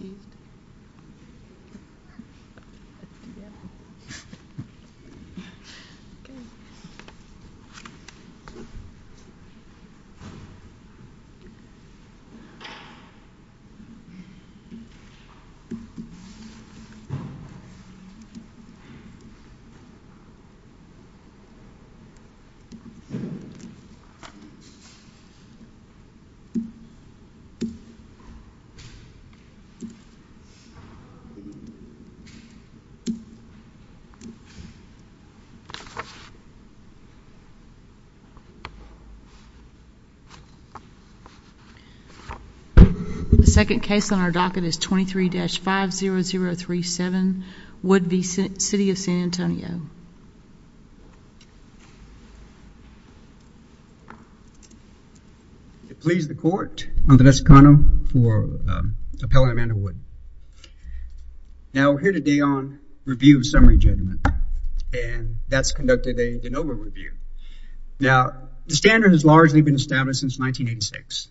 new and the the second case on our docket is 23-50037 Woodby City of San Antonio To please the court, I'm Vanessa Connell for appellant Amanda Wood. Now we're here today on review of summary judgment and that's conducted a Now the standard has largely been established since 1986.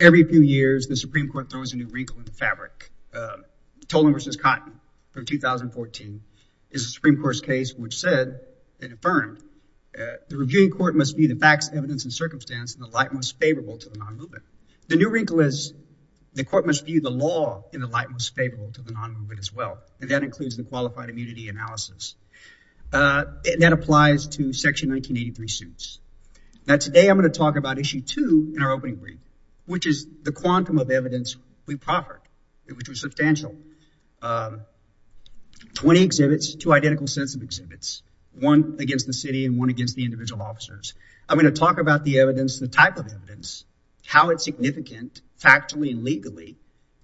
Every few years the Supreme Court throws a new wrinkle in the fabric. Tolan versus Cotton from 2014 is a Supreme Court case which said and affirmed the reviewing court must view the facts evidence and circumstance in the light most favorable to the non-movement. The new wrinkle is the court must view the law in the light most favorable to the non-movement as well and that includes the qualified 1983 suits. Now today I'm going to talk about issue two in our opening brief which is the quantum of evidence we proffered which was substantial. 20 exhibits, two identical sets of exhibits, one against the city and one against the individual officers. I'm going to talk about the evidence the type of evidence how it's significant factually and legally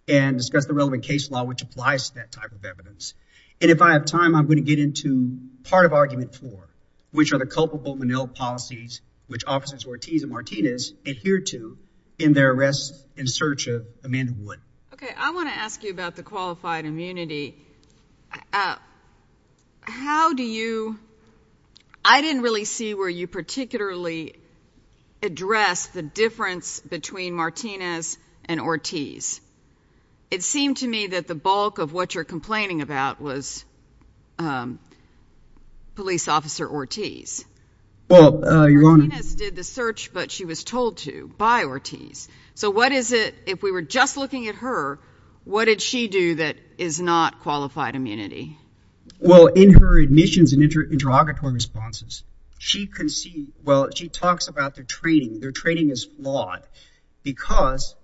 and discuss the relevant case law which applies to that type of evidence and if I have time I'm going to into part of argument four which are the culpable Menil policies which officers Ortiz and Martinez adhere to in their arrests in search of Amanda Wood. Okay I want to ask you about the qualified immunity. How do you I didn't really see where you particularly address the difference between Martinez and Ortiz. It seemed to me that the bulk of what you're complaining about was police officer Ortiz. Martinez did the search but she was told to by Ortiz so what is it if we were just looking at her what did she do that is not qualified immunity? Well in her admissions and interrogatory responses she can see well she talks about their training. Their training is flawed because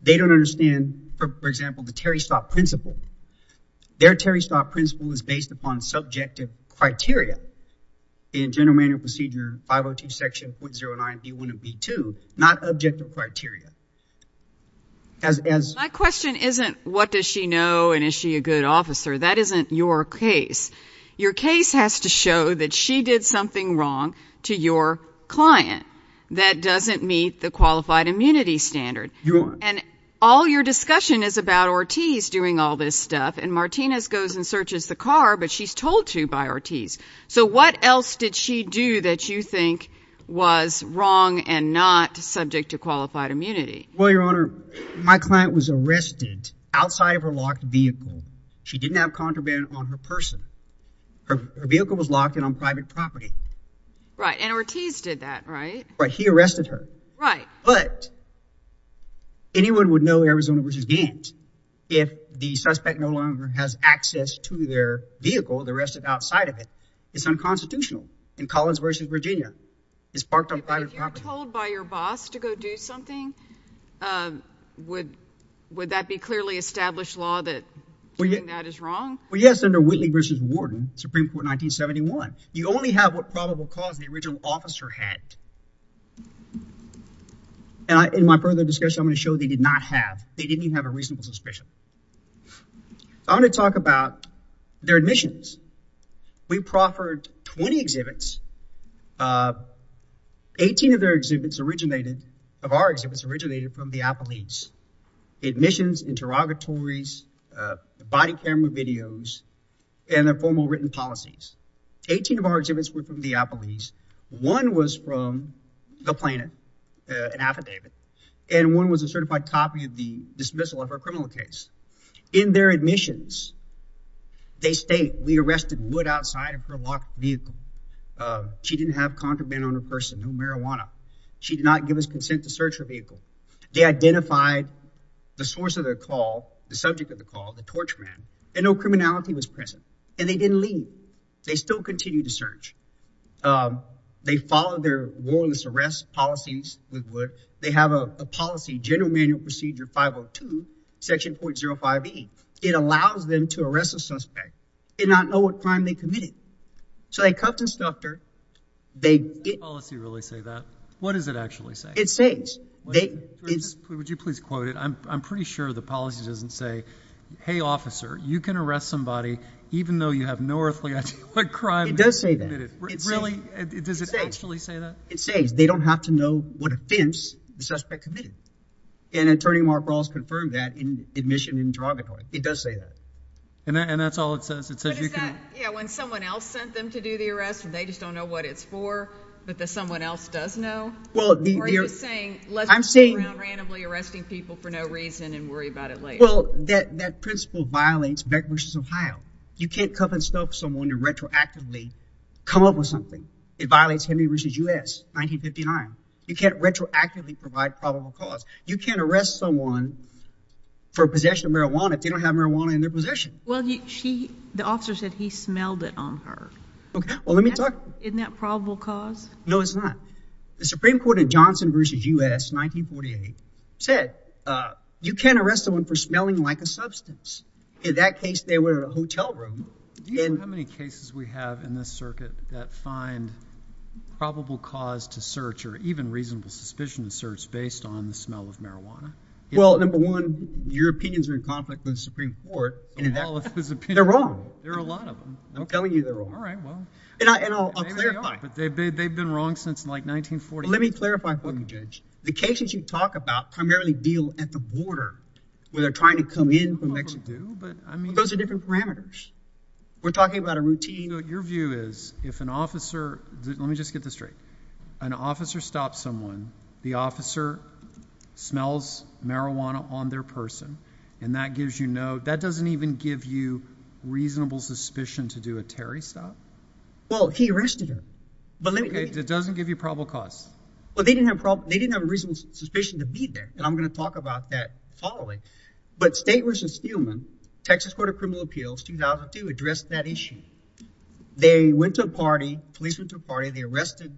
they don't understand for example the Terry Starr principle. Their Terry Starr principle is based upon subjective criteria in general manual procedure 502 section .09 B1 and B2 not objective criteria. My question isn't what does she know and is she a good officer that isn't your case. Your case has to show that she did something wrong to your client that doesn't meet the qualified immunity standard and all your discussion is about Ortiz doing all this stuff and Martinez goes and searches the car but she's told to by Ortiz. So what else did she do that you think was wrong and not subject to qualified immunity? Well your honor my client was arrested outside of her locked vehicle. She didn't have contraband on her person. Her vehicle was locked in on private property. Right and would know Arizona versus Gaines if the suspect no longer has access to their vehicle the rest of outside of it. It's unconstitutional in Collins versus Virginia. It's parked on private property. If you were told by your boss to go do something would would that be clearly established law that doing that is wrong? Well yes under Whitley versus Warden Supreme Court 1971 you only have what probable cause the original officer had. And in my further discussion I'm going to show they did not have they didn't even have a reasonable suspicion. I'm going to talk about their admissions. We proffered 20 exhibits. 18 of their exhibits originated of our exhibits originated from Diapolese. Admissions, interrogatories, body camera videos and their formal written policies. 18 of our exhibits were from Diapolese. One was from the planet, an affidavit and one was a certified copy of the dismissal of her criminal case. In their admissions they state we arrested Wood outside of her locked vehicle. She didn't have contraband on her person, no marijuana. She did not give us consent to search her vehicle. They identified the source of their call, the subject of the call, the torch man and no criminality was present. And they didn't leave. They still continued to search. They followed their warless arrest policies with Wood. They have a policy General Manual Procedure 502 section .05e. It allows them to arrest a suspect and not know what crime they committed. So they cuffed and stuffed her. Does the policy really say that? What does it actually say? It says. Would you please quote it? I'm pretty sure the policy doesn't say, hey officer you can arrest somebody even though you have no earthly crime. It does say that. Really? Does it actually say that? It says they don't have to know what offense the suspect committed. And Attorney Mark Ross confirmed that in admission interrogatory. It does say that. And that's all it says. It says you can. Yeah, when someone else sent them to do the arrest and they just don't know what it's for but that someone else does know? Well, that principle violates Beck v. Ohio. You can't cuff and stuff someone and retroactively come up with something. It violates Henry v. U.S. 1959. You can't retroactively provide probable cause. You can't arrest someone for possession of marijuana if they don't have marijuana in their possession. Well, the officer said he smelled it on her. Okay, well let me talk. Isn't that the same court in Johnson v. U.S. 1948 said you can't arrest someone for smelling like a substance. In that case, they were in a hotel room. Do you know how many cases we have in this circuit that find probable cause to search or even reasonable suspicion to search based on the smell of marijuana? Well, number one, Europeans are in conflict with the Supreme Court. They're wrong. There are a lot of them. I'm telling you they're wrong. They've been wrong since like 1948. Let me clarify for you, Judge. The cases you talk about primarily deal at the border where they're trying to come in from Mexico. Those are different parameters. We're talking about a routine. Your view is if an officer, let me just get this straight, an officer stops someone, the officer smells marijuana on their person and that gives you no, that doesn't even give you reasonable suspicion to do a Terry stop? Well, he arrested her. But it doesn't give you probable cause. Well, they didn't have a reasonable suspicion to be there. And I'm going to talk about that following. But State v. Steelman, Texas Court of Criminal Appeals 2002 addressed that issue. They went to a party, police went to a party. They arrested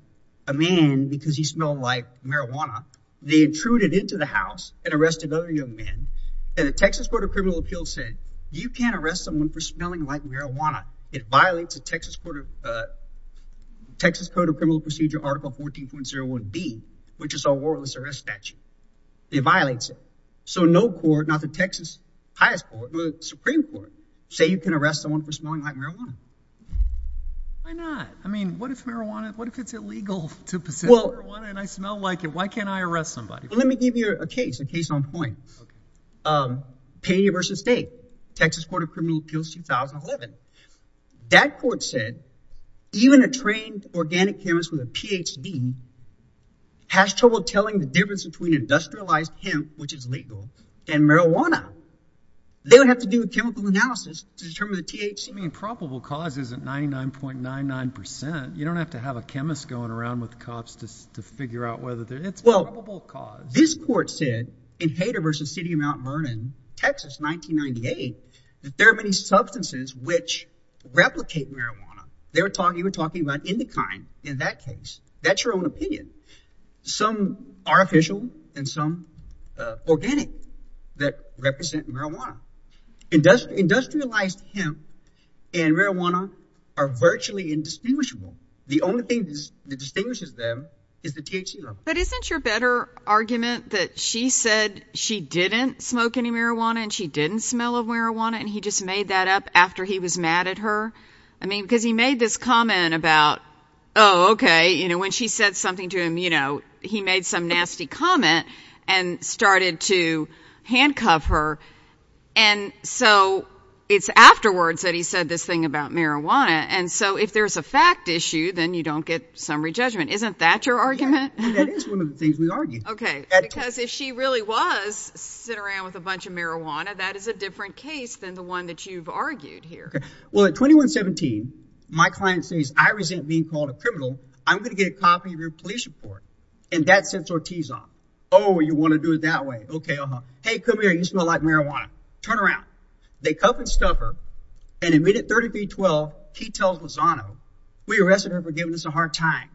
a man because he smelled like marijuana. They intruded into the house and arrested other young men. And the Texas Court of Criminal Appeals said you can't arrest someone for smelling like marijuana. It violates the Texas Court of Texas Code of Criminal Procedure, Article 14.01B, which is our warrantless arrest statute. It violates it. So no court, not the Texas Supreme Court, say you can arrest someone for smelling like marijuana. Why not? I mean, what if marijuana, what if it's illegal to possess marijuana and I smell like it? Why can't I arrest somebody? Let me give you a case on point. Payne v. State, Texas Court of Criminal Appeals 2011. That court said even a trained organic chemist with a PhD has trouble telling the difference between industrialized hemp, which is legal, and marijuana. They would have to do a chemical analysis to determine the THC. I mean, probable cause isn't 99.99%. You don't have to have a chemist going around with in Hayter v. City of Mount Vernon, Texas, 1998, that there are many substances which replicate marijuana. They were talking, you were talking about Indokine in that case. That's your own opinion. Some artificial and some organic that represent marijuana. Industrialized hemp and marijuana are virtually indistinguishable. The only thing that distinguishes them is the THC But isn't your better argument that she said she didn't smoke any marijuana and she didn't smell of marijuana and he just made that up after he was mad at her? I mean, because he made this comment about, oh, okay, you know, when she said something to him, you know, he made some nasty comment and started to handcuff her. And so it's afterwards that he said this thing about marijuana. And so if there's a fact issue, then you don't get summary judgment. Isn't that your argument? That is one of the things we argue. Okay. Because if she really was sitting around with a bunch of marijuana, that is a different case than the one that you've argued here. Well, at 2117, my client says, I resent being called a criminal. I'm going to get a copy of your police report. And that sets Ortiz off. Oh, you want to do it that way? Okay. Uh-huh. Hey, come here. You smell like marijuana. Turn around. They cuff and stuff her. And immediately at 30 feet 12, he tells Lozano, we arrested her for giving us a hard time.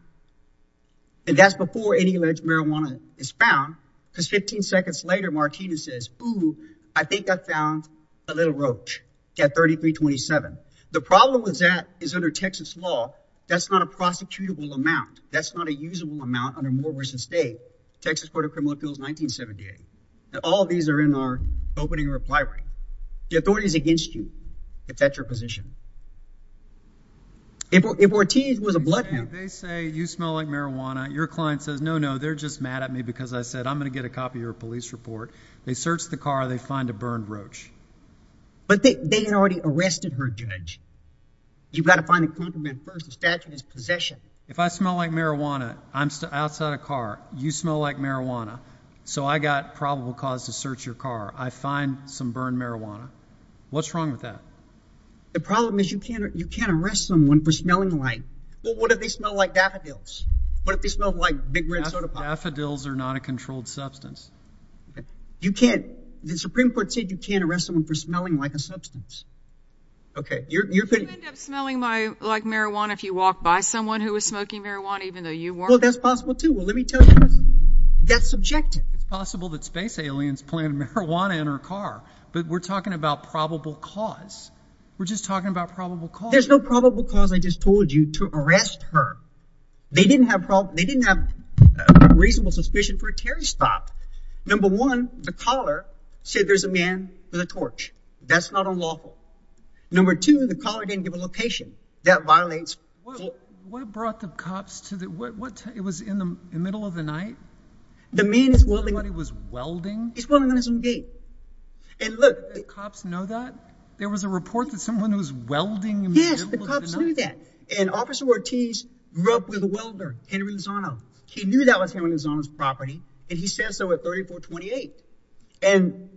And that's before any alleged marijuana is found. Because 15 seconds later, Martina says, oh, I think I found a little roach at 3327. The problem with that is under Texas law, that's not a prosecutable amount. That's not a usable amount under Moore v. State, Texas Court of Criminal Appeals 1978. And all of these are in our opening repliary. The authority is against you. It's at your position. If Ortiz was a blood man, they say, you smell like marijuana. Your client says, no, no, they're just mad at me because I said, I'm going to get a copy of your police report. They searched the car. They find a burned roach. But they had already arrested her, judge. You've got to find a compliment first. The statute is possession. If I smell like marijuana, I'm outside a car. You smell like marijuana. So I got probable cause to search your car. I find some burned marijuana. What's wrong with that? The problem is you can't arrest someone for smelling like. Well, what if they smell like daffodils? What if they smell like big red soda pop? Daffodils are not a controlled substance. You can't. The Supreme Court said you can't arrest someone for smelling like a substance. OK, you end up smelling like marijuana if you walk by someone who is smoking marijuana, even though you weren't. Well, that's possible, too. Well, let me tell you, that's subjective. It's possible that space aliens planted marijuana in her car, but we're talking about probable cause. We're just talking about probable cause. There's no probable cause. I just told you to arrest her. They didn't have problem. They didn't have a reasonable suspicion for a Terry stop. Number one, the caller said there's a man with a torch. That's not unlawful. Number two, the caller didn't give a location that violates. What brought the cops to the what? It was in the middle of the night. The man is willing. He was welding. He's willing on his own gate. And look, the cops know that there was a report that someone who's welding. Yes, the cops knew that. And Officer Ortiz grew up with a welder, Henry Lozano. He knew that was him on his own property. And he says so at thirty four twenty eight. And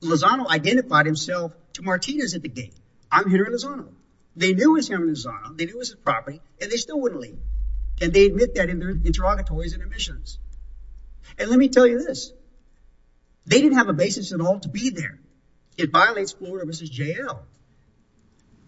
Lozano identified himself to Martinez at the gate. I'm Henry Lozano. They knew it was him and Lozano. They knew it was his property and they still wouldn't leave. And they admit that in their interrogatories and admissions. And let me tell you this. They didn't have a basis at all to be there. It violates Florida versus jail.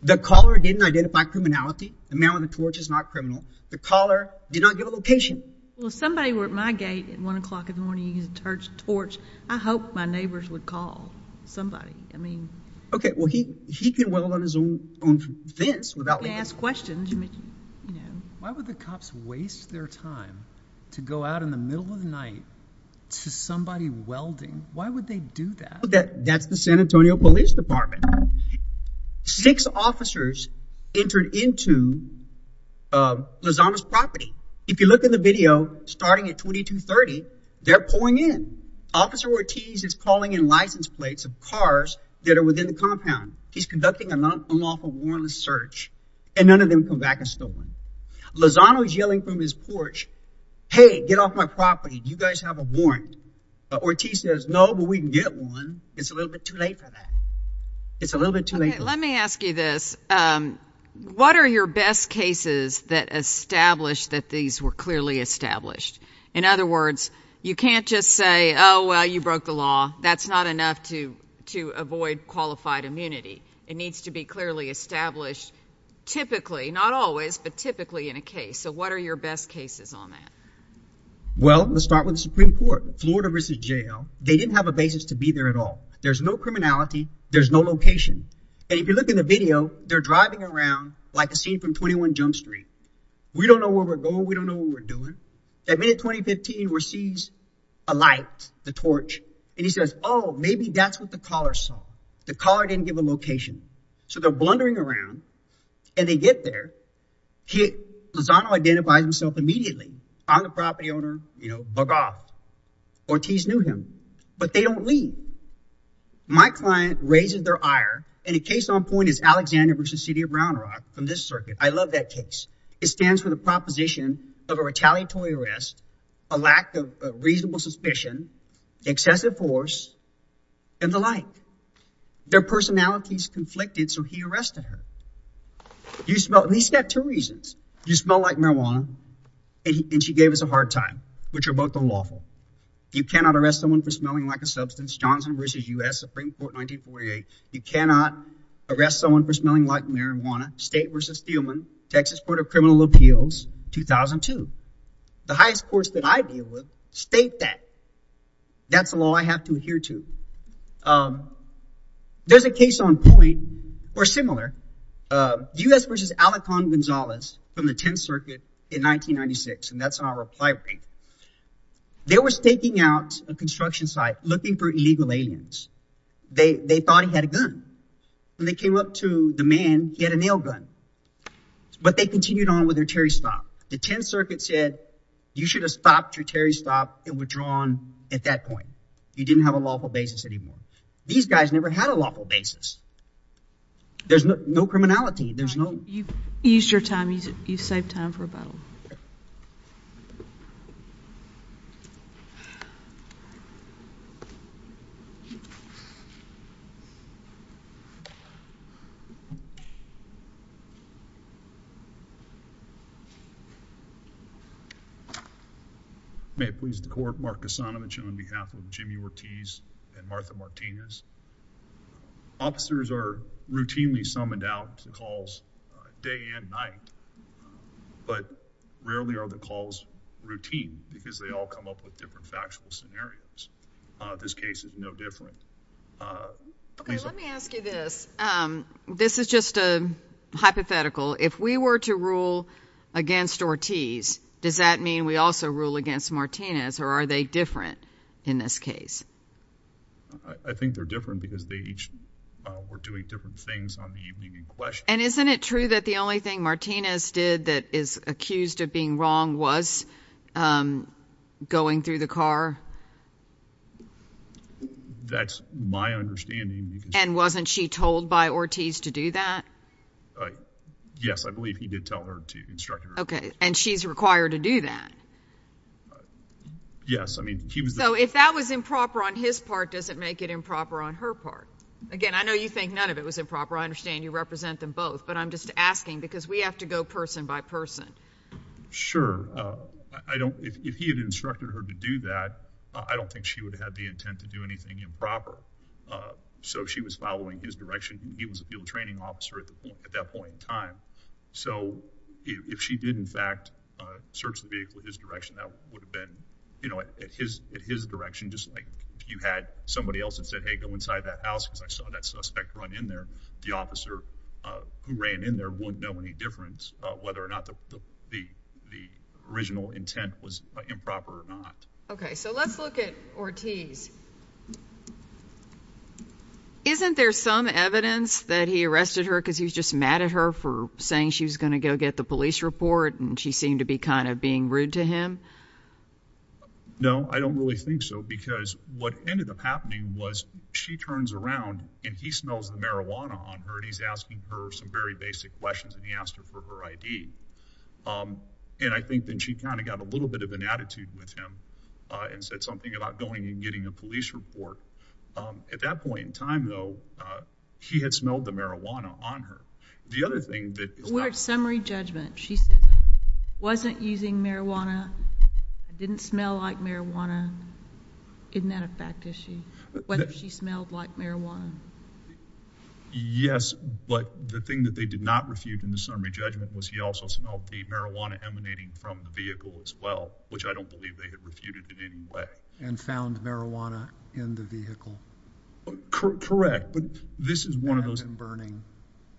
The caller didn't identify criminality. The man with the torch is not criminal. The caller did not give a location. Well, somebody were at my gate at one o'clock in the morning. He's a church torch. I hope my neighbors would call somebody. I mean, OK, well, he he can weld on his own fence without asking questions. Why would the cops waste their time to go out in the middle of the night to somebody welding? Why would they do that? That's the San Antonio Police Department. Six officers entered into Lozano's property. If you look in the video starting at twenty two thirty, they're pulling in. Officer Ortiz is calling in license plates of cars that are within the compound. He's conducting a lawful warrantless search and none of them come back and stolen Lozano's yelling from his porch. Hey, get off my property. You guys have a warrant. Ortiz says, no, but we can get one. It's a little bit too late for that. It's a little bit too late. Let me ask you this. What are your best cases that establish that these were clearly established? In other words, you can't just say, oh, well, you broke the law. That's not enough to to avoid qualified immunity. It needs to be clearly established. Typically, not always, but typically in a case. So what are your best cases on that? Well, let's start with the Supreme Court, Florida versus jail. They didn't have a basis to be there at all. There's no criminality. There's no location. And if you look in the video, they're driving around like a scene from 21 Jump Street. We don't know where we're going. We don't know what we're doing. At minute 20, 15 receives a light, the torch. And he says, oh, maybe that's what the caller saw. The car didn't give a location. So they're blundering around and they get there. Lozano identifies himself immediately on the property owner, you know, Bogart. Ortiz knew him, but they don't leave. My client raises their ire. And a case on point is Alexander versus city of Brown Rock from this circuit. I love that case. It stands for the proposition of a retaliatory arrest, a lack of reasonable suspicion, excessive force and the like. Their personalities conflicted. So he arrested her. You smell at least two reasons. You smell like marijuana. And she gave us a hard time, which are both unlawful. You cannot arrest someone for smelling like a substance. Johnson versus U.S. Supreme Court, 1948. You cannot arrest someone for smelling like marijuana. State versus Steelman, Texas Court of Criminal Appeals, 2002. The highest courts that I deal with state that. That's the law I have to adhere to. There's a case on point or similar. U.S. versus Alacon Gonzalez from the 10th Circuit in 1996. And that's our reply rate. They were staking out a construction site looking for illegal aliens. They thought he had a gun. When they came up to the man, he had a nail gun. But they continued on with their Terry stop. The 10th Circuit said you should have stopped your Terry stop and withdrawn at that point. You didn't have a lawful basis anymore. These guys never had a lawful basis. There's no criminality. There's no. You used your time. You saved time for a battle. May it please the court. Mark Kasanovich on behalf of Jimmy Ortiz and Martha Martinez. Officers are routinely summoned out to calls day and night. But rarely are the calls routine because they all come up with different factual scenarios. This case is no different. Let me ask you this. This is just a hypothetical. If we were to rule against Ortiz, does that mean we also rule against Martinez or are they different in this case? I think they're different because they each were doing different things on the evening in question. And isn't it true that the only thing Martinez did that is accused of being wrong was um going through the car? That's my understanding. And wasn't she told by Ortiz to do that? Yes, I believe he did tell her to instruct her. Okay and she's required to do that? Yes, I mean he was. So if that was improper on his part, does it make it improper on her part? Again, I know you think none of it was improper. I understand you represent them both. But I'm I don't if he had instructed her to do that, I don't think she would have the intent to do anything improper. So she was following his direction. He was a field training officer at the point at that point in time. So if she did, in fact, search the vehicle his direction, that would have been, you know, at his at his direction. Just like if you had somebody else and said, hey, go inside that house because I saw that suspect run in there. The officer who ran in there wouldn't know any difference whether or not the original intent was improper or not. Okay, so let's look at Ortiz. Isn't there some evidence that he arrested her because he was just mad at her for saying she was going to go get the police report and she seemed to be kind of being rude to him? No, I don't really think so because what ended up happening was she turns around and he smells the marijuana on her and he's asking her some very basic questions and he asked her for her ID. And I think then she kind of got a little bit of an attitude with him and said something about going and getting a police report. At that point in time, though, he had smelled the marijuana on her. The other thing that we're summary judgment, she said wasn't using marijuana, didn't smell like marijuana. Isn't that a fact issue? Whether she smelled like marijuana? Yes, but the thing that they did not refute in the summary judgment was he also smelled the marijuana emanating from the vehicle as well, which I don't believe they had refuted in any way and found marijuana in the vehicle. Correct. But this is one of those burning.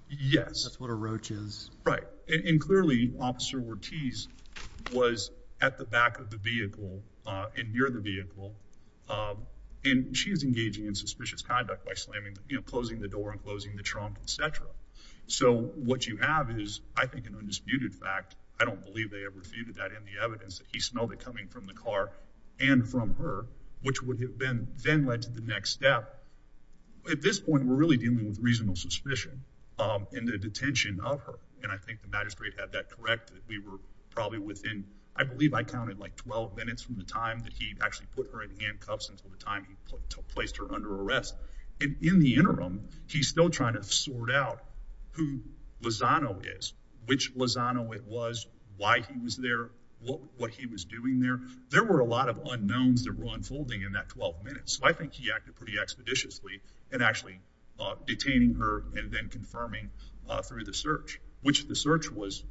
Yes, that's what Officer Ortiz was at the back of the vehicle and near the vehicle. And she is engaging in suspicious conduct by slamming, closing the door and closing the trunk, etc. So what you have is, I think, an undisputed fact. I don't believe they ever refuted that in the evidence that he smelled it coming from the car and from her, which would have been then led to the next step. At this point, we're really dealing with reasonable suspicion in the detention of her. And I think the magistrate had that correct. We were probably within, I believe I counted like 12 minutes from the time that he actually put her in handcuffs until the time he placed her under arrest. And in the interim, he's still trying to sort out who Lozano is, which Lozano it was, why he was there, what he was doing there. There were a lot of unknowns that were unfolding in that 12 minutes. So I think he acted pretty expeditiously and actually detaining her and then confirming through the search, which the search was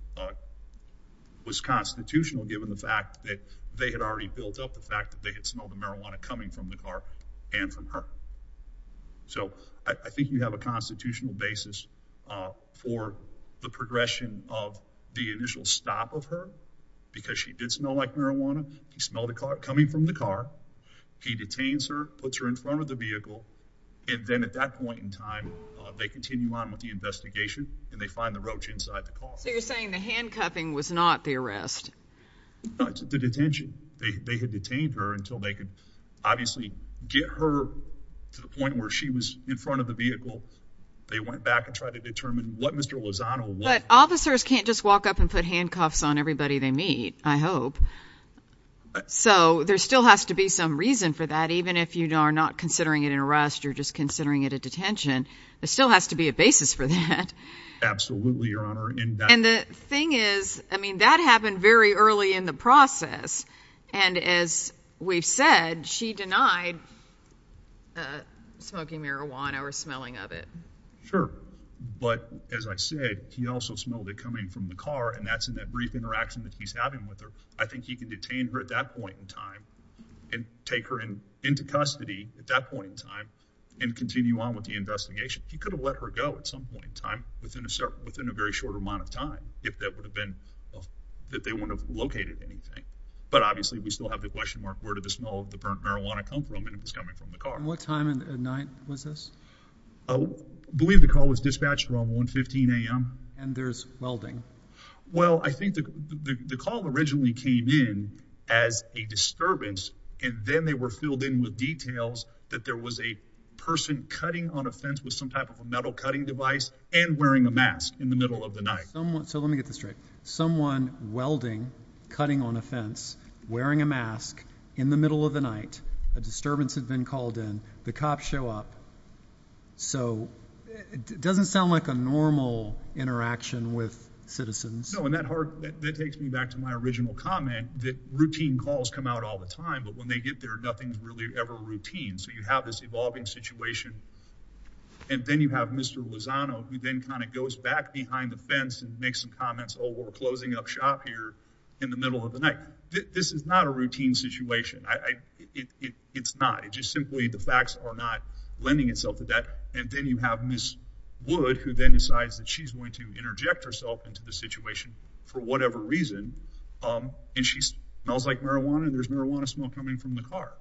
constitutional given the fact that they had already built up the fact that they had smelled the marijuana coming from the car and from her. So I think you have a constitutional basis for the progression of the initial stop of her because she did smell like marijuana. He smelled it coming from the car. He detains her, puts her in front of the vehicle. And then at that point in time, they continue on with the investigation and they find the roach inside the car. So you're saying the handcuffing was not the arrest? No, it's the detention. They had detained her until they could obviously get her to the point where she was in front of the vehicle. They went back and tried to determine what Mr. Lozano was. But officers can't just walk up and put handcuffs on everybody they meet, I hope. So there still has to be some reason for that. Even if you are not considering it an arrest, you're just considering it a detention. There still has to be a basis for that. Absolutely, Your Honor. And the thing is, I mean, that happened very early in the process. And as we've said, she denied smoking marijuana or smelling of it. Sure. But as I said, he also smelled it coming from the car. And that's in that brief interaction that he's having with her. I think he could detain her at that point in time and take her in into custody at that point in time and continue on with the investigation. He could have let her go at some point in time within a certain, within a very short amount of time, if that would have been, that they wouldn't have located anything. But obviously, we still have the question mark, where did the smell of the burnt marijuana come from? And it was coming from the car. What time of night was this? I believe the call was dispatched around 1.15 a.m. And there's welding. Well, I think the call originally came in as a disturbance, and then they were filled in with details that there was a person cutting on a fence with some type of a metal cutting device and wearing a mask in the middle of the night. So let me get this straight. Someone welding, cutting on a fence, wearing a mask in the middle of the night. A disturbance had been called in. The cops show up. So it doesn't sound like a normal interaction with citizens. No, and that takes me back to my original comment that routine calls come out all the time, but when they get there, nothing's really ever routine. So you have this evolving situation, and then you have Mr. Lozano, who then kind of goes back behind the fence and makes some comments, oh, we're closing up shop here in the middle of the night. This is not a it's not. It's just simply the facts are not lending itself to that. And then you have Ms. Wood, who then decides that she's going to interject herself into the situation for whatever reason. And she smells like marijuana. There's marijuana smell coming from the car.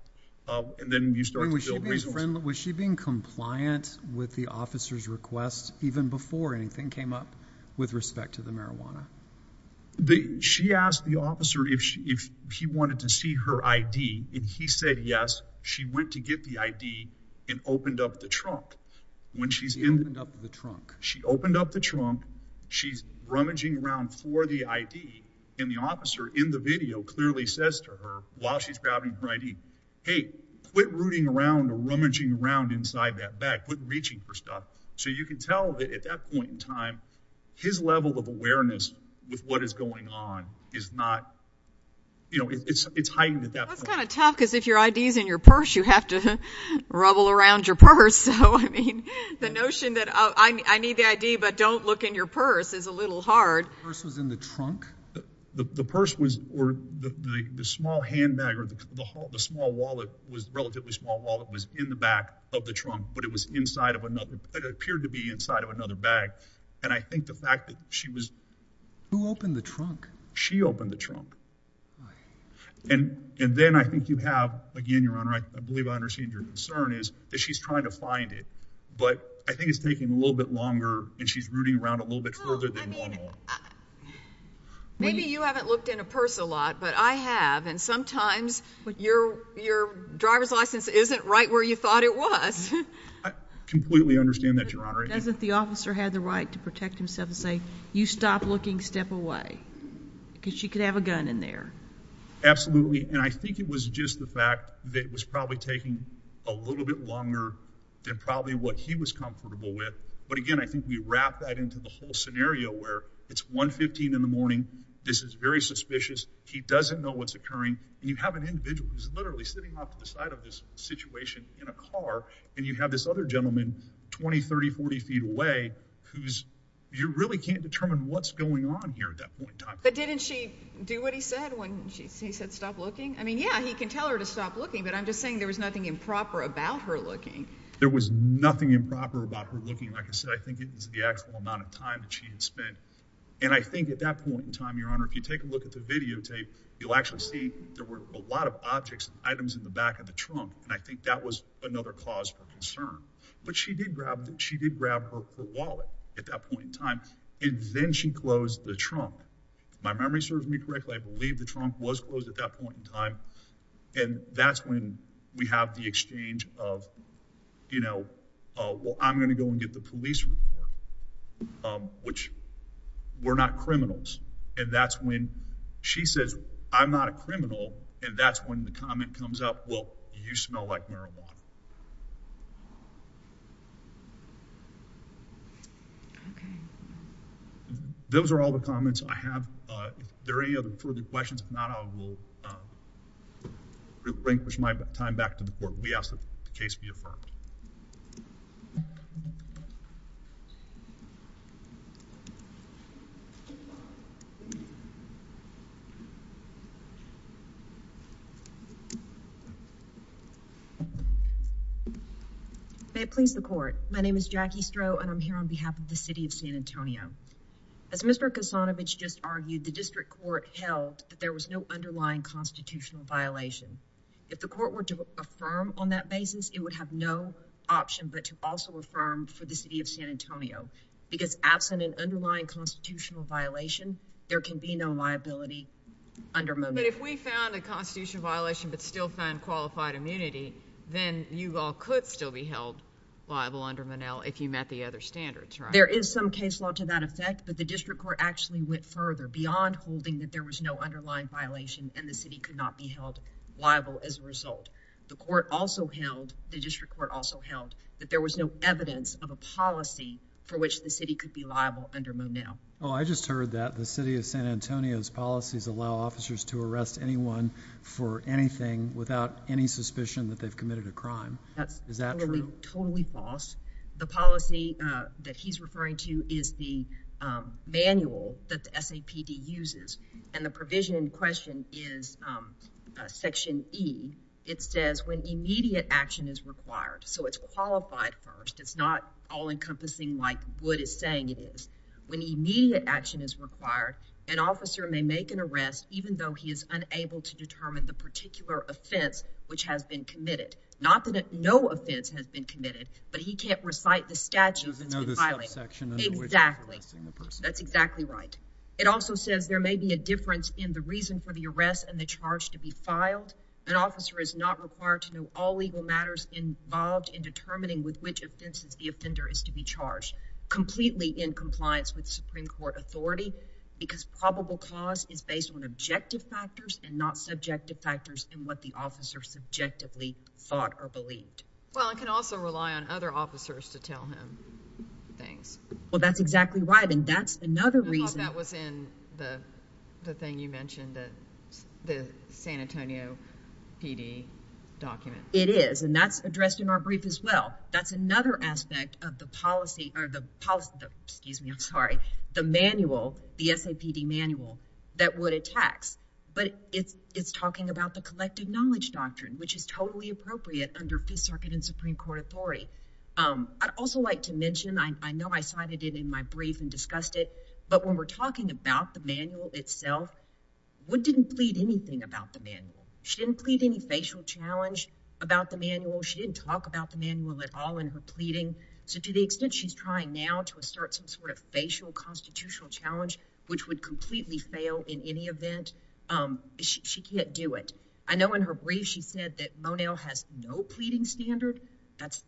And then you start to build resources. Was she being compliant with the officer's request even before anything came up with respect to the marijuana? She asked the officer if he wanted to see her ID, and he said yes. She went to get the ID and opened up the trunk. When she's in the trunk, she opened up the trunk. She's rummaging around for the ID, and the officer in the video clearly says to her while she's grabbing her ID, hey, quit rooting around or rummaging around inside that bag. Quit reaching for stuff. So you can tell that at that point in time, his level of awareness with what is going on is not, you know, it's hiding at that point. That's kind of tough, because if your ID is in your purse, you have to rubble around your purse. So I mean, the notion that I need the ID, but don't look in your purse is a little hard. The purse was in the trunk? The purse was or the small handbag or the small wallet was relatively small wallet was in the back of the trunk, but it was inside of another, it appeared to be inside of another bag. And I think the fact that she was. Who opened the trunk? She opened the trunk. And then I think you have, again, Your Honor, I believe I understand your concern is that she's trying to find it, but I think it's taking a little bit longer and she's rooting around a little bit further than normal. Maybe you haven't looked in a purse a lot, but I have. And sometimes your driver's license isn't right where you thought it was. I completely understand that, Your Honor. As if the officer had the right to protect himself and say, you stop looking, step away. Because she could have a gun in there. Absolutely. And I think it was just the fact that it was probably taking a little bit longer than probably what he was comfortable with. But again, I think we wrap that into the whole scenario where it's 115 in the morning. This is very suspicious. He doesn't know what's occurring. And you have an individual who's literally sitting off to the side of this situation in a car. And you have this other gentleman 20, 30, 40 feet away, who's, you really can't determine what's going on here at that point in time. But didn't she do what he said when he said stop looking? I mean, yeah, he can tell her to stop looking, but I'm just saying there was nothing improper about her looking. There was nothing improper about her looking. Like I said, I think it was the actual amount of time that she had spent. And I think at that point in time, Your Honor, if you take a look at the videotape, you'll actually see there were a lot of objects and But she did grab her wallet at that point in time. And then she closed the trunk. If my memory serves me correctly, I believe the trunk was closed at that point in time. And that's when we have the exchange of, you know, well, I'm going to go and get the police report, which we're not criminals. And that's when she says, I'm not a criminal. And that's when the comment comes up, well, you smell like marijuana. Those are all the comments I have. If there are any other further questions, if not, I will bring my time back to the court. We ask that the case be affirmed. May it please the court. My name is Jackie Stroh, and I'm here on behalf of the city of San Antonio. As Mr. Kosanovic just argued, the district court held that there was no underlying constitutional violation. If the court were to affirm on that basis, it would have no option but to also affirm for the city of San Antonio. Because absent an underlying constitutional violation, there can be no liability under Monell. But if we found a constitutional violation but still found qualified immunity, then you all could still be held liable under Monell if you met the other standards, right? There is some case law to that effect, but the district court actually went further beyond holding that there was no underlying violation and the city could not be held liable as a result. The court also held, the district court also held, that there was no evidence of a policy for which the city could be liable under Monell. Oh, I just heard that the city of San Antonio's policies allow officers to arrest anyone for anything without any suspicion that they've committed a crime. Is that true? That's totally false. The policy that he's uses and the provision in question is section E. It says when immediate action is required, so it's qualified first. It's not all encompassing like Wood is saying it is. When immediate action is required, an officer may make an arrest even though he is unable to determine the particular offense which has been committed. Not that no offense has been committed, but he can't recite the statute. Exactly. That's exactly right. It also says there may be a difference in the reason for the arrest and the charge to be filed. An officer is not required to know all legal matters involved in determining with which offenses the offender is to be charged completely in compliance with Supreme Court authority because probable cause is based on objective factors and not subjective factors in what the officer subjectively thought or believed. Well, I can also rely on other officers to tell him things. Well, that's exactly right and that's another reason. I thought that was in the thing you mentioned that the San Antonio PD document. It is and that's addressed in our brief as well. That's another aspect of the policy or the policy, excuse me, I'm sorry, the manual, the SAPD manual that Wood attacks, but it's talking about the collective knowledge doctrine which is totally appropriate under Fifth Circuit and Supreme Court authority. I'd also like to mention, I know I cited it in my brief and discussed it, but when we're talking about the manual itself, Wood didn't plead anything about the manual. She didn't plead any facial challenge about the manual. She didn't talk about the manual at all in her pleading. So, to the extent she's trying now to assert some sort of facial constitutional challenge which would completely fail in any event, she can't do it. I know in her brief she said that Monell has no pleading standard. That's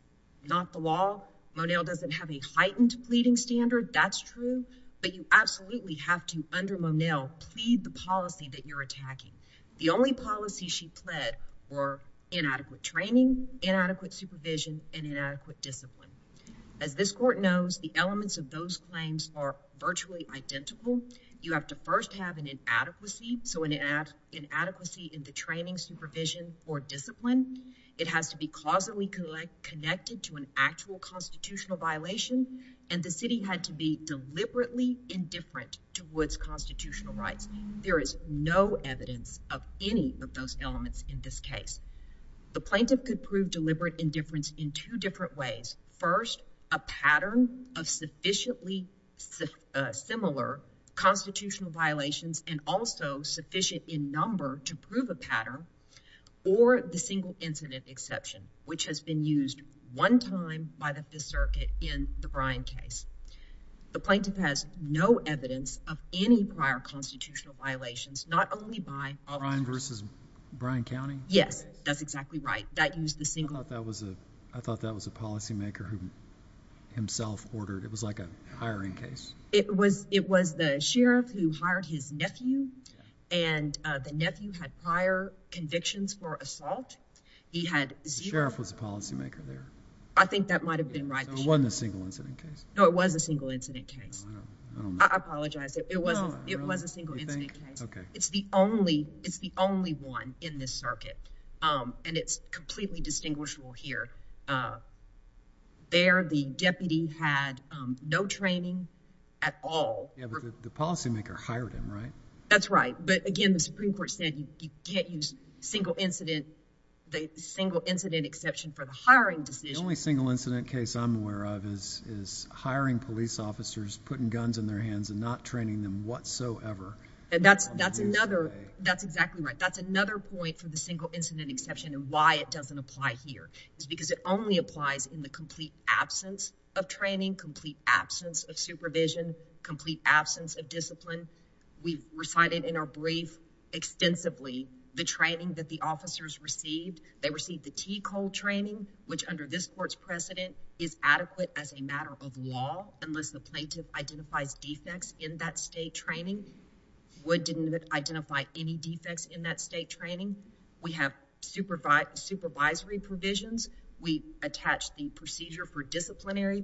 not the law. Monell doesn't have a heightened pleading standard. That's true, but you absolutely have to, under Monell, plead the policy that you're attacking. The only policy she pled were inadequate training, inadequate supervision, and inadequate discipline. As this has to have an inadequacy, so an inadequacy in the training, supervision, or discipline, it has to be causally connected to an actual constitutional violation, and the city had to be deliberately indifferent towards constitutional rights. There is no evidence of any of those elements in this case. The plaintiff could prove deliberate indifference in two different ways. First, a and also sufficient in number to prove a pattern or the single incident exception, which has been used one time by the Fifth Circuit in the Bryan case. The plaintiff has no evidence of any prior constitutional violations, not only by Bryan versus Bryan County? Yes, that's exactly right. That used the single. I thought that was a policymaker who himself ordered. It was like a sheriff who hired his nephew, and the nephew had prior convictions for assault. The sheriff was a policymaker there. I think that might have been right. So it wasn't a single incident case? No, it was a single incident case. I apologize. It was a single incident case. It's the only one in this circuit, and it's completely distinguishable here. There, the deputy had no training at all. The policymaker hired him, right? That's right. But again, the Supreme Court said you can't use single incident, the single incident exception for the hiring decision. The only single incident case I'm aware of is hiring police officers, putting guns in their hands and not training them whatsoever. And that's exactly right. That's another point for the single incident exception and why it doesn't apply here. It's because it only applies in the complete absence of training, complete absence of supervision, complete absence of discipline. We recited in our brief extensively the training that the officers received. They received the TCO training, which under this court's precedent is adequate as a matter of law unless the plaintiff identifies defects in that state training. Wood didn't identify any defects in that state training. We have supervisory provisions. We attach the procedure for disciplinary,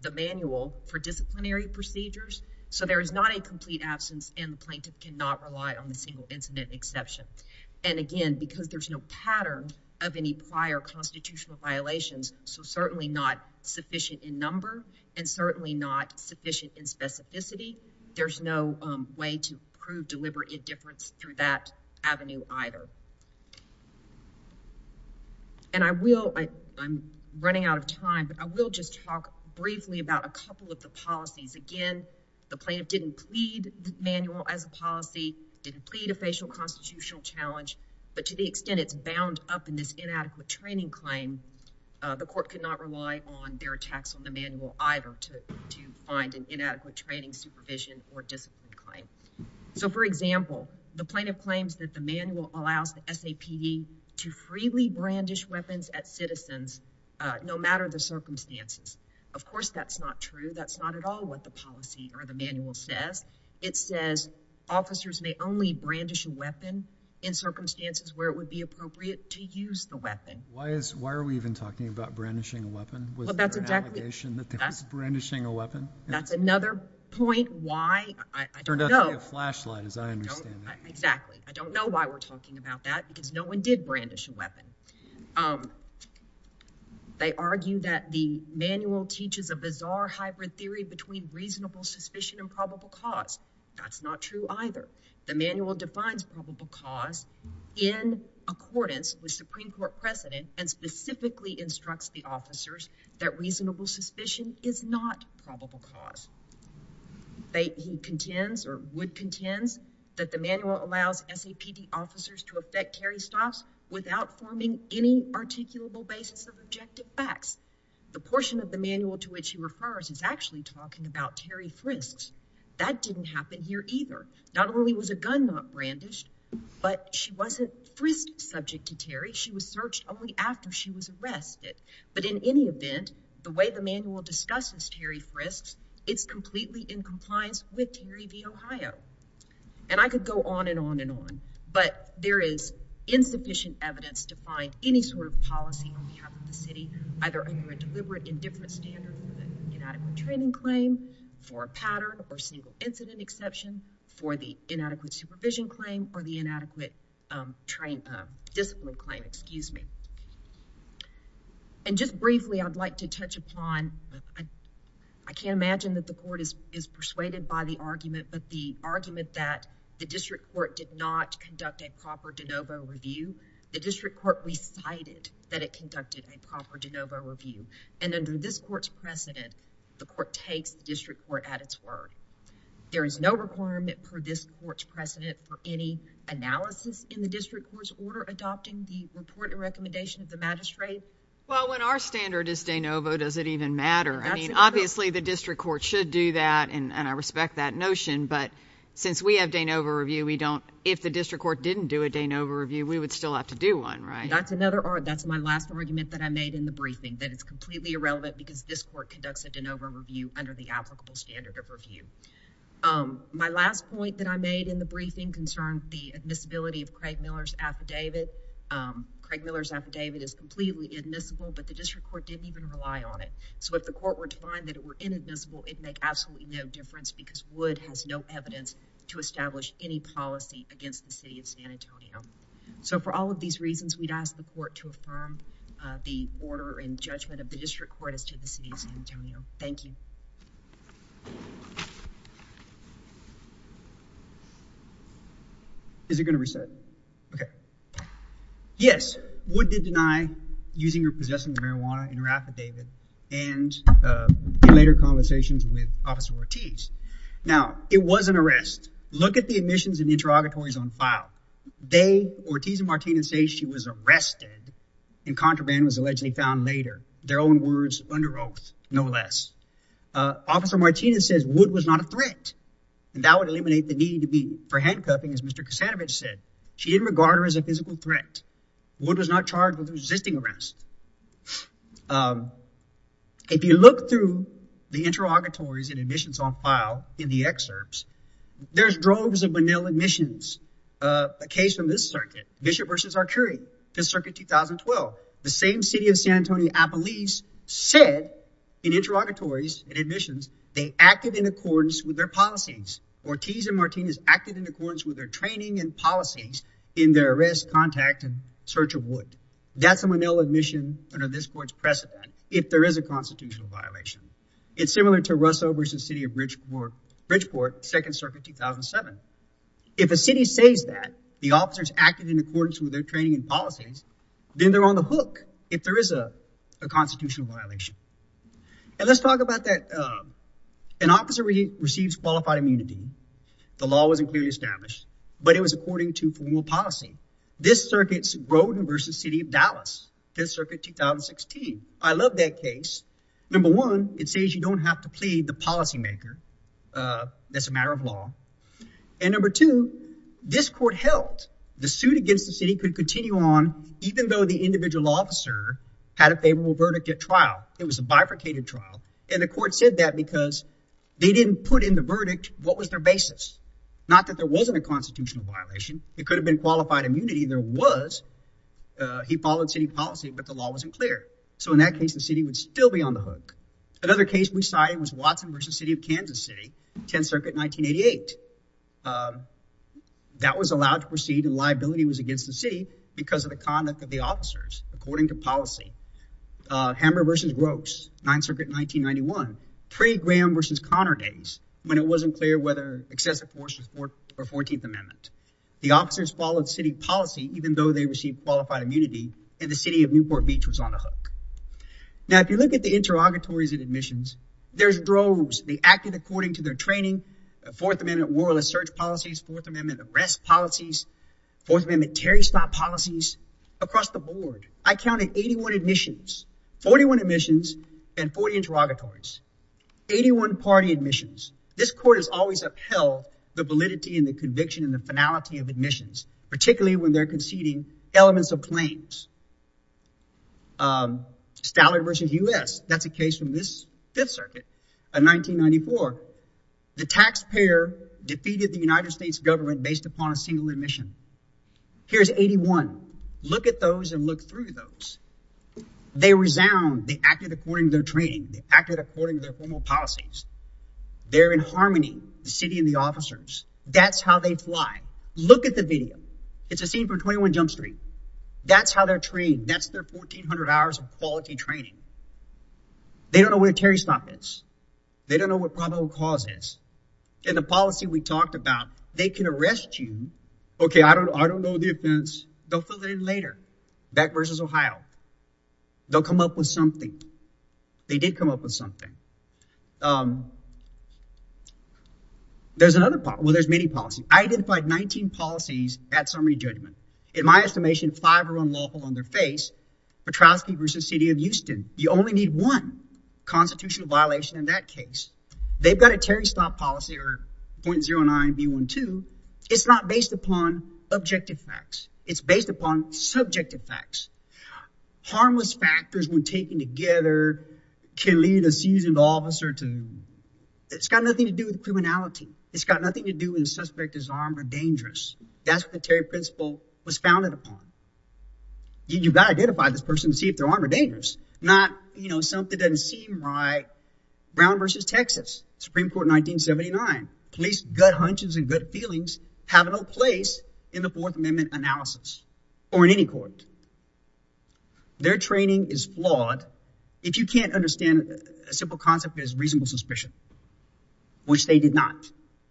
the manual for disciplinary procedures. So there is not a complete absence and the plaintiff cannot rely on the single incident exception. And again, because there's no pattern of any prior constitutional violations, so certainly not sufficient in number and certainly not sufficient in specificity, there's no way to prove deliberate indifference through that avenue either. And I will, I'm running out of time, but I will just talk briefly about a couple of the policies. Again, the plaintiff didn't plead the manual as a policy, didn't plead a facial constitutional challenge, but to the extent it's bound up in this inadequate training claim, the court could rely on their tax on the manual either to find an inadequate training supervision or discipline claim. So for example, the plaintiff claims that the manual allows the SAP to freely brandish weapons at citizens no matter the circumstances. Of course, that's not true. That's not at all what the policy or the manual says. It says officers may only brandish a weapon in circumstances where it would be appropriate to use the weapon. Why is, why are we even talking about brandishing a weapon? Was there an allegation that they were brandishing a weapon? That's another point why I don't know. It turned out to be a flashlight as I understand it. Exactly. I don't know why we're talking about that because no one did brandish a weapon. They argue that the manual teaches a bizarre hybrid theory between reasonable suspicion and probable cause. That's not true either. The manual defines probable cause in accordance with Supreme Court precedent and specifically instructs the officers that reasonable suspicion is not probable cause. They, he contends or would contends that the manual allows SAPD officers to effect Terry stops without forming any articulable basis of objective facts. The portion of the manual to which he refers is actually talking about Terry Frist. That didn't happen here either. Not only was a gun not brandished, but she wasn't Frist subject to Terry. She was searched only after she was arrested. But in any event, the way the manual discusses Terry Frist, it's completely in compliance with Terry v. Ohio. And I could go on and on and on, but there is insufficient evidence to find any sort of policy on behalf of the city either under a deliberate indifference standard, inadequate training claim for a pattern or single incident exception for the inadequate supervision claim or the inadequate discipline claim, excuse me. And just briefly, I'd like to touch upon, I can't imagine that the court is persuaded by the argument, but the argument that the district court did not conduct a proper de novo review, the district court recited that it conducted a proper de novo review. And under this court's precedent, the court takes the district court at its word. There is no requirement for this court's precedent for any analysis in the district court's order adopting the report and recommendation of the magistrate. Well, when our standard is de novo, does it even matter? I mean, obviously the district court should do that and I respect that notion. But since we have de novo review, we don't, if the district court didn't do a de novo review, we would still have to do one, right? That's my last argument that I made in the briefing, that it's completely irrelevant because this court conducts a de novo review under the applicable standard of review. My last point that I made in the briefing concerned the admissibility of Craig Miller's affidavit. Craig Miller's affidavit is completely admissible, but the district court didn't even rely on it. So if the court were to find that it were inadmissible, it'd make absolutely no difference because Wood has no evidence to establish any policy against the city of San Antonio. So for all of these reasons, we'd ask the court to affirm the order and judgment of the district court as to the city of San Antonio. Thank you. Is it going to reset? Okay. Yes, Wood did deny using or possessing marijuana in her affidavit and in later conversations with Officer Ortiz. Now, it was an arrest. Look at the admissions and interrogatories on file. They, Ortiz and Martinez, say she was arrested and contraband was allegedly found later, their own words under oath, no less. Officer Martinez says Wood was not a threat and that would eliminate the need to be for handcuffing, as Mr. Kasanovic said. She didn't regard her as a physical threat. Wood was not charged with resisting arrest. If you look through the interrogatories and admissions on file in the excerpts, there's droves of Manila admissions. A case from this circuit, Bishop versus Arcuri, this circuit 2012, the same city of San Antonio, I believe, said in interrogatories and admissions they acted in accordance with their policies. Ortiz and Martinez acted in accordance with their training and policies in their arrest, contact, and search of Wood. That's a Manila admission under this court's precedent, if there is a constitutional violation. It's similar to Russell versus the city of Bridgeport, second circuit 2007. If a city says that the officers acted in accordance with their training and policies, then they're on the hook, if there is a constitutional violation. And let's talk about that. An officer receives qualified immunity. The law wasn't clearly established, but it was according to formal policy. This circuit's number one, it says you don't have to plead the policymaker. That's a matter of law. And number two, this court held the suit against the city could continue on, even though the individual officer had a favorable verdict at trial. It was a bifurcated trial. And the court said that because they didn't put in the verdict. What was their basis? Not that there wasn't a constitutional violation. It could have been qualified immunity. There was. He followed city policy, but the law wasn't clear. So in that case, the city would still be on the hook. Another case we cited was Watson versus the city of Kansas City, 10th Circuit, 1988. That was allowed to proceed and liability was against the city because of the conduct of the officers, according to policy. Hammer versus Gross, 9th Circuit, 1991, pre-Graham versus Connor days, when it wasn't clear whether excessive force or 14th Amendment. The officers followed city policy, even though they received qualified immunity in the city of Newport Beach was on the hook. Now, if you look at the interrogatories and admissions, there's droves. They acted according to their training, 4th Amendment, warless search policies, 4th Amendment, arrest policies, 4th Amendment, Terry stop policies across the board. I counted 81 admissions, 41 admissions and 40 interrogatories, 81 party admissions. This court has always upheld the validity and the conviction and the finality of admissions, particularly when they're conceding elements of claims. Stallard versus U.S., that's a case from this 5th Circuit of 1994. The taxpayer defeated the United States government based upon a single admission. Here's 81. Look at those and look through those. They resound. They acted according to their training. They acted according to their officers. That's how they fly. Look at the video. It's a scene from 21 Jump Street. That's how they're trained. That's their 1400 hours of quality training. They don't know where Terry stop is. They don't know what probable cause is. And the policy we talked about, they can arrest you. OK, I don't I don't know the offense. They'll fill it in later. Back versus Ohio. They'll come up with something. They did come up with something. There's another. Well, there's many policies. I identified 19 policies at summary judgment. In my estimation, five are unlawful on their face. Petrovsky versus city of Houston. You only need one constitutional violation in that case. They've got a Terry stop policy or point zero nine one two. It's not based upon objective facts. It's based upon subjective facts. Harmless factors when taken together can lead a seasoned officer to. It's got nothing to do with criminality. It's got nothing to do with the suspect is armed or dangerous. That's what the Terry principle was founded upon. You've got to identify this person to see if they're armed or dangerous. Not, you know, something doesn't seem right. Brown versus Texas Supreme Court, 1979, police gut hunches and good feelings have no place in the Fourth Amendment analysis or in any court. Their training is flawed. If you can't understand a simple concept is reasonable suspicion. Which they did not.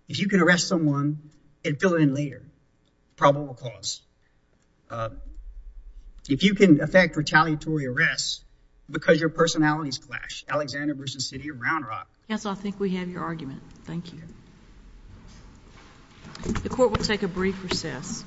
If you can arrest someone and fill it in later, probable cause. If you can affect retaliatory arrests because your personalities clash, Alexander versus city of Round Rock. Yes, I think we have your argument. Thank you. The court will take a brief recess.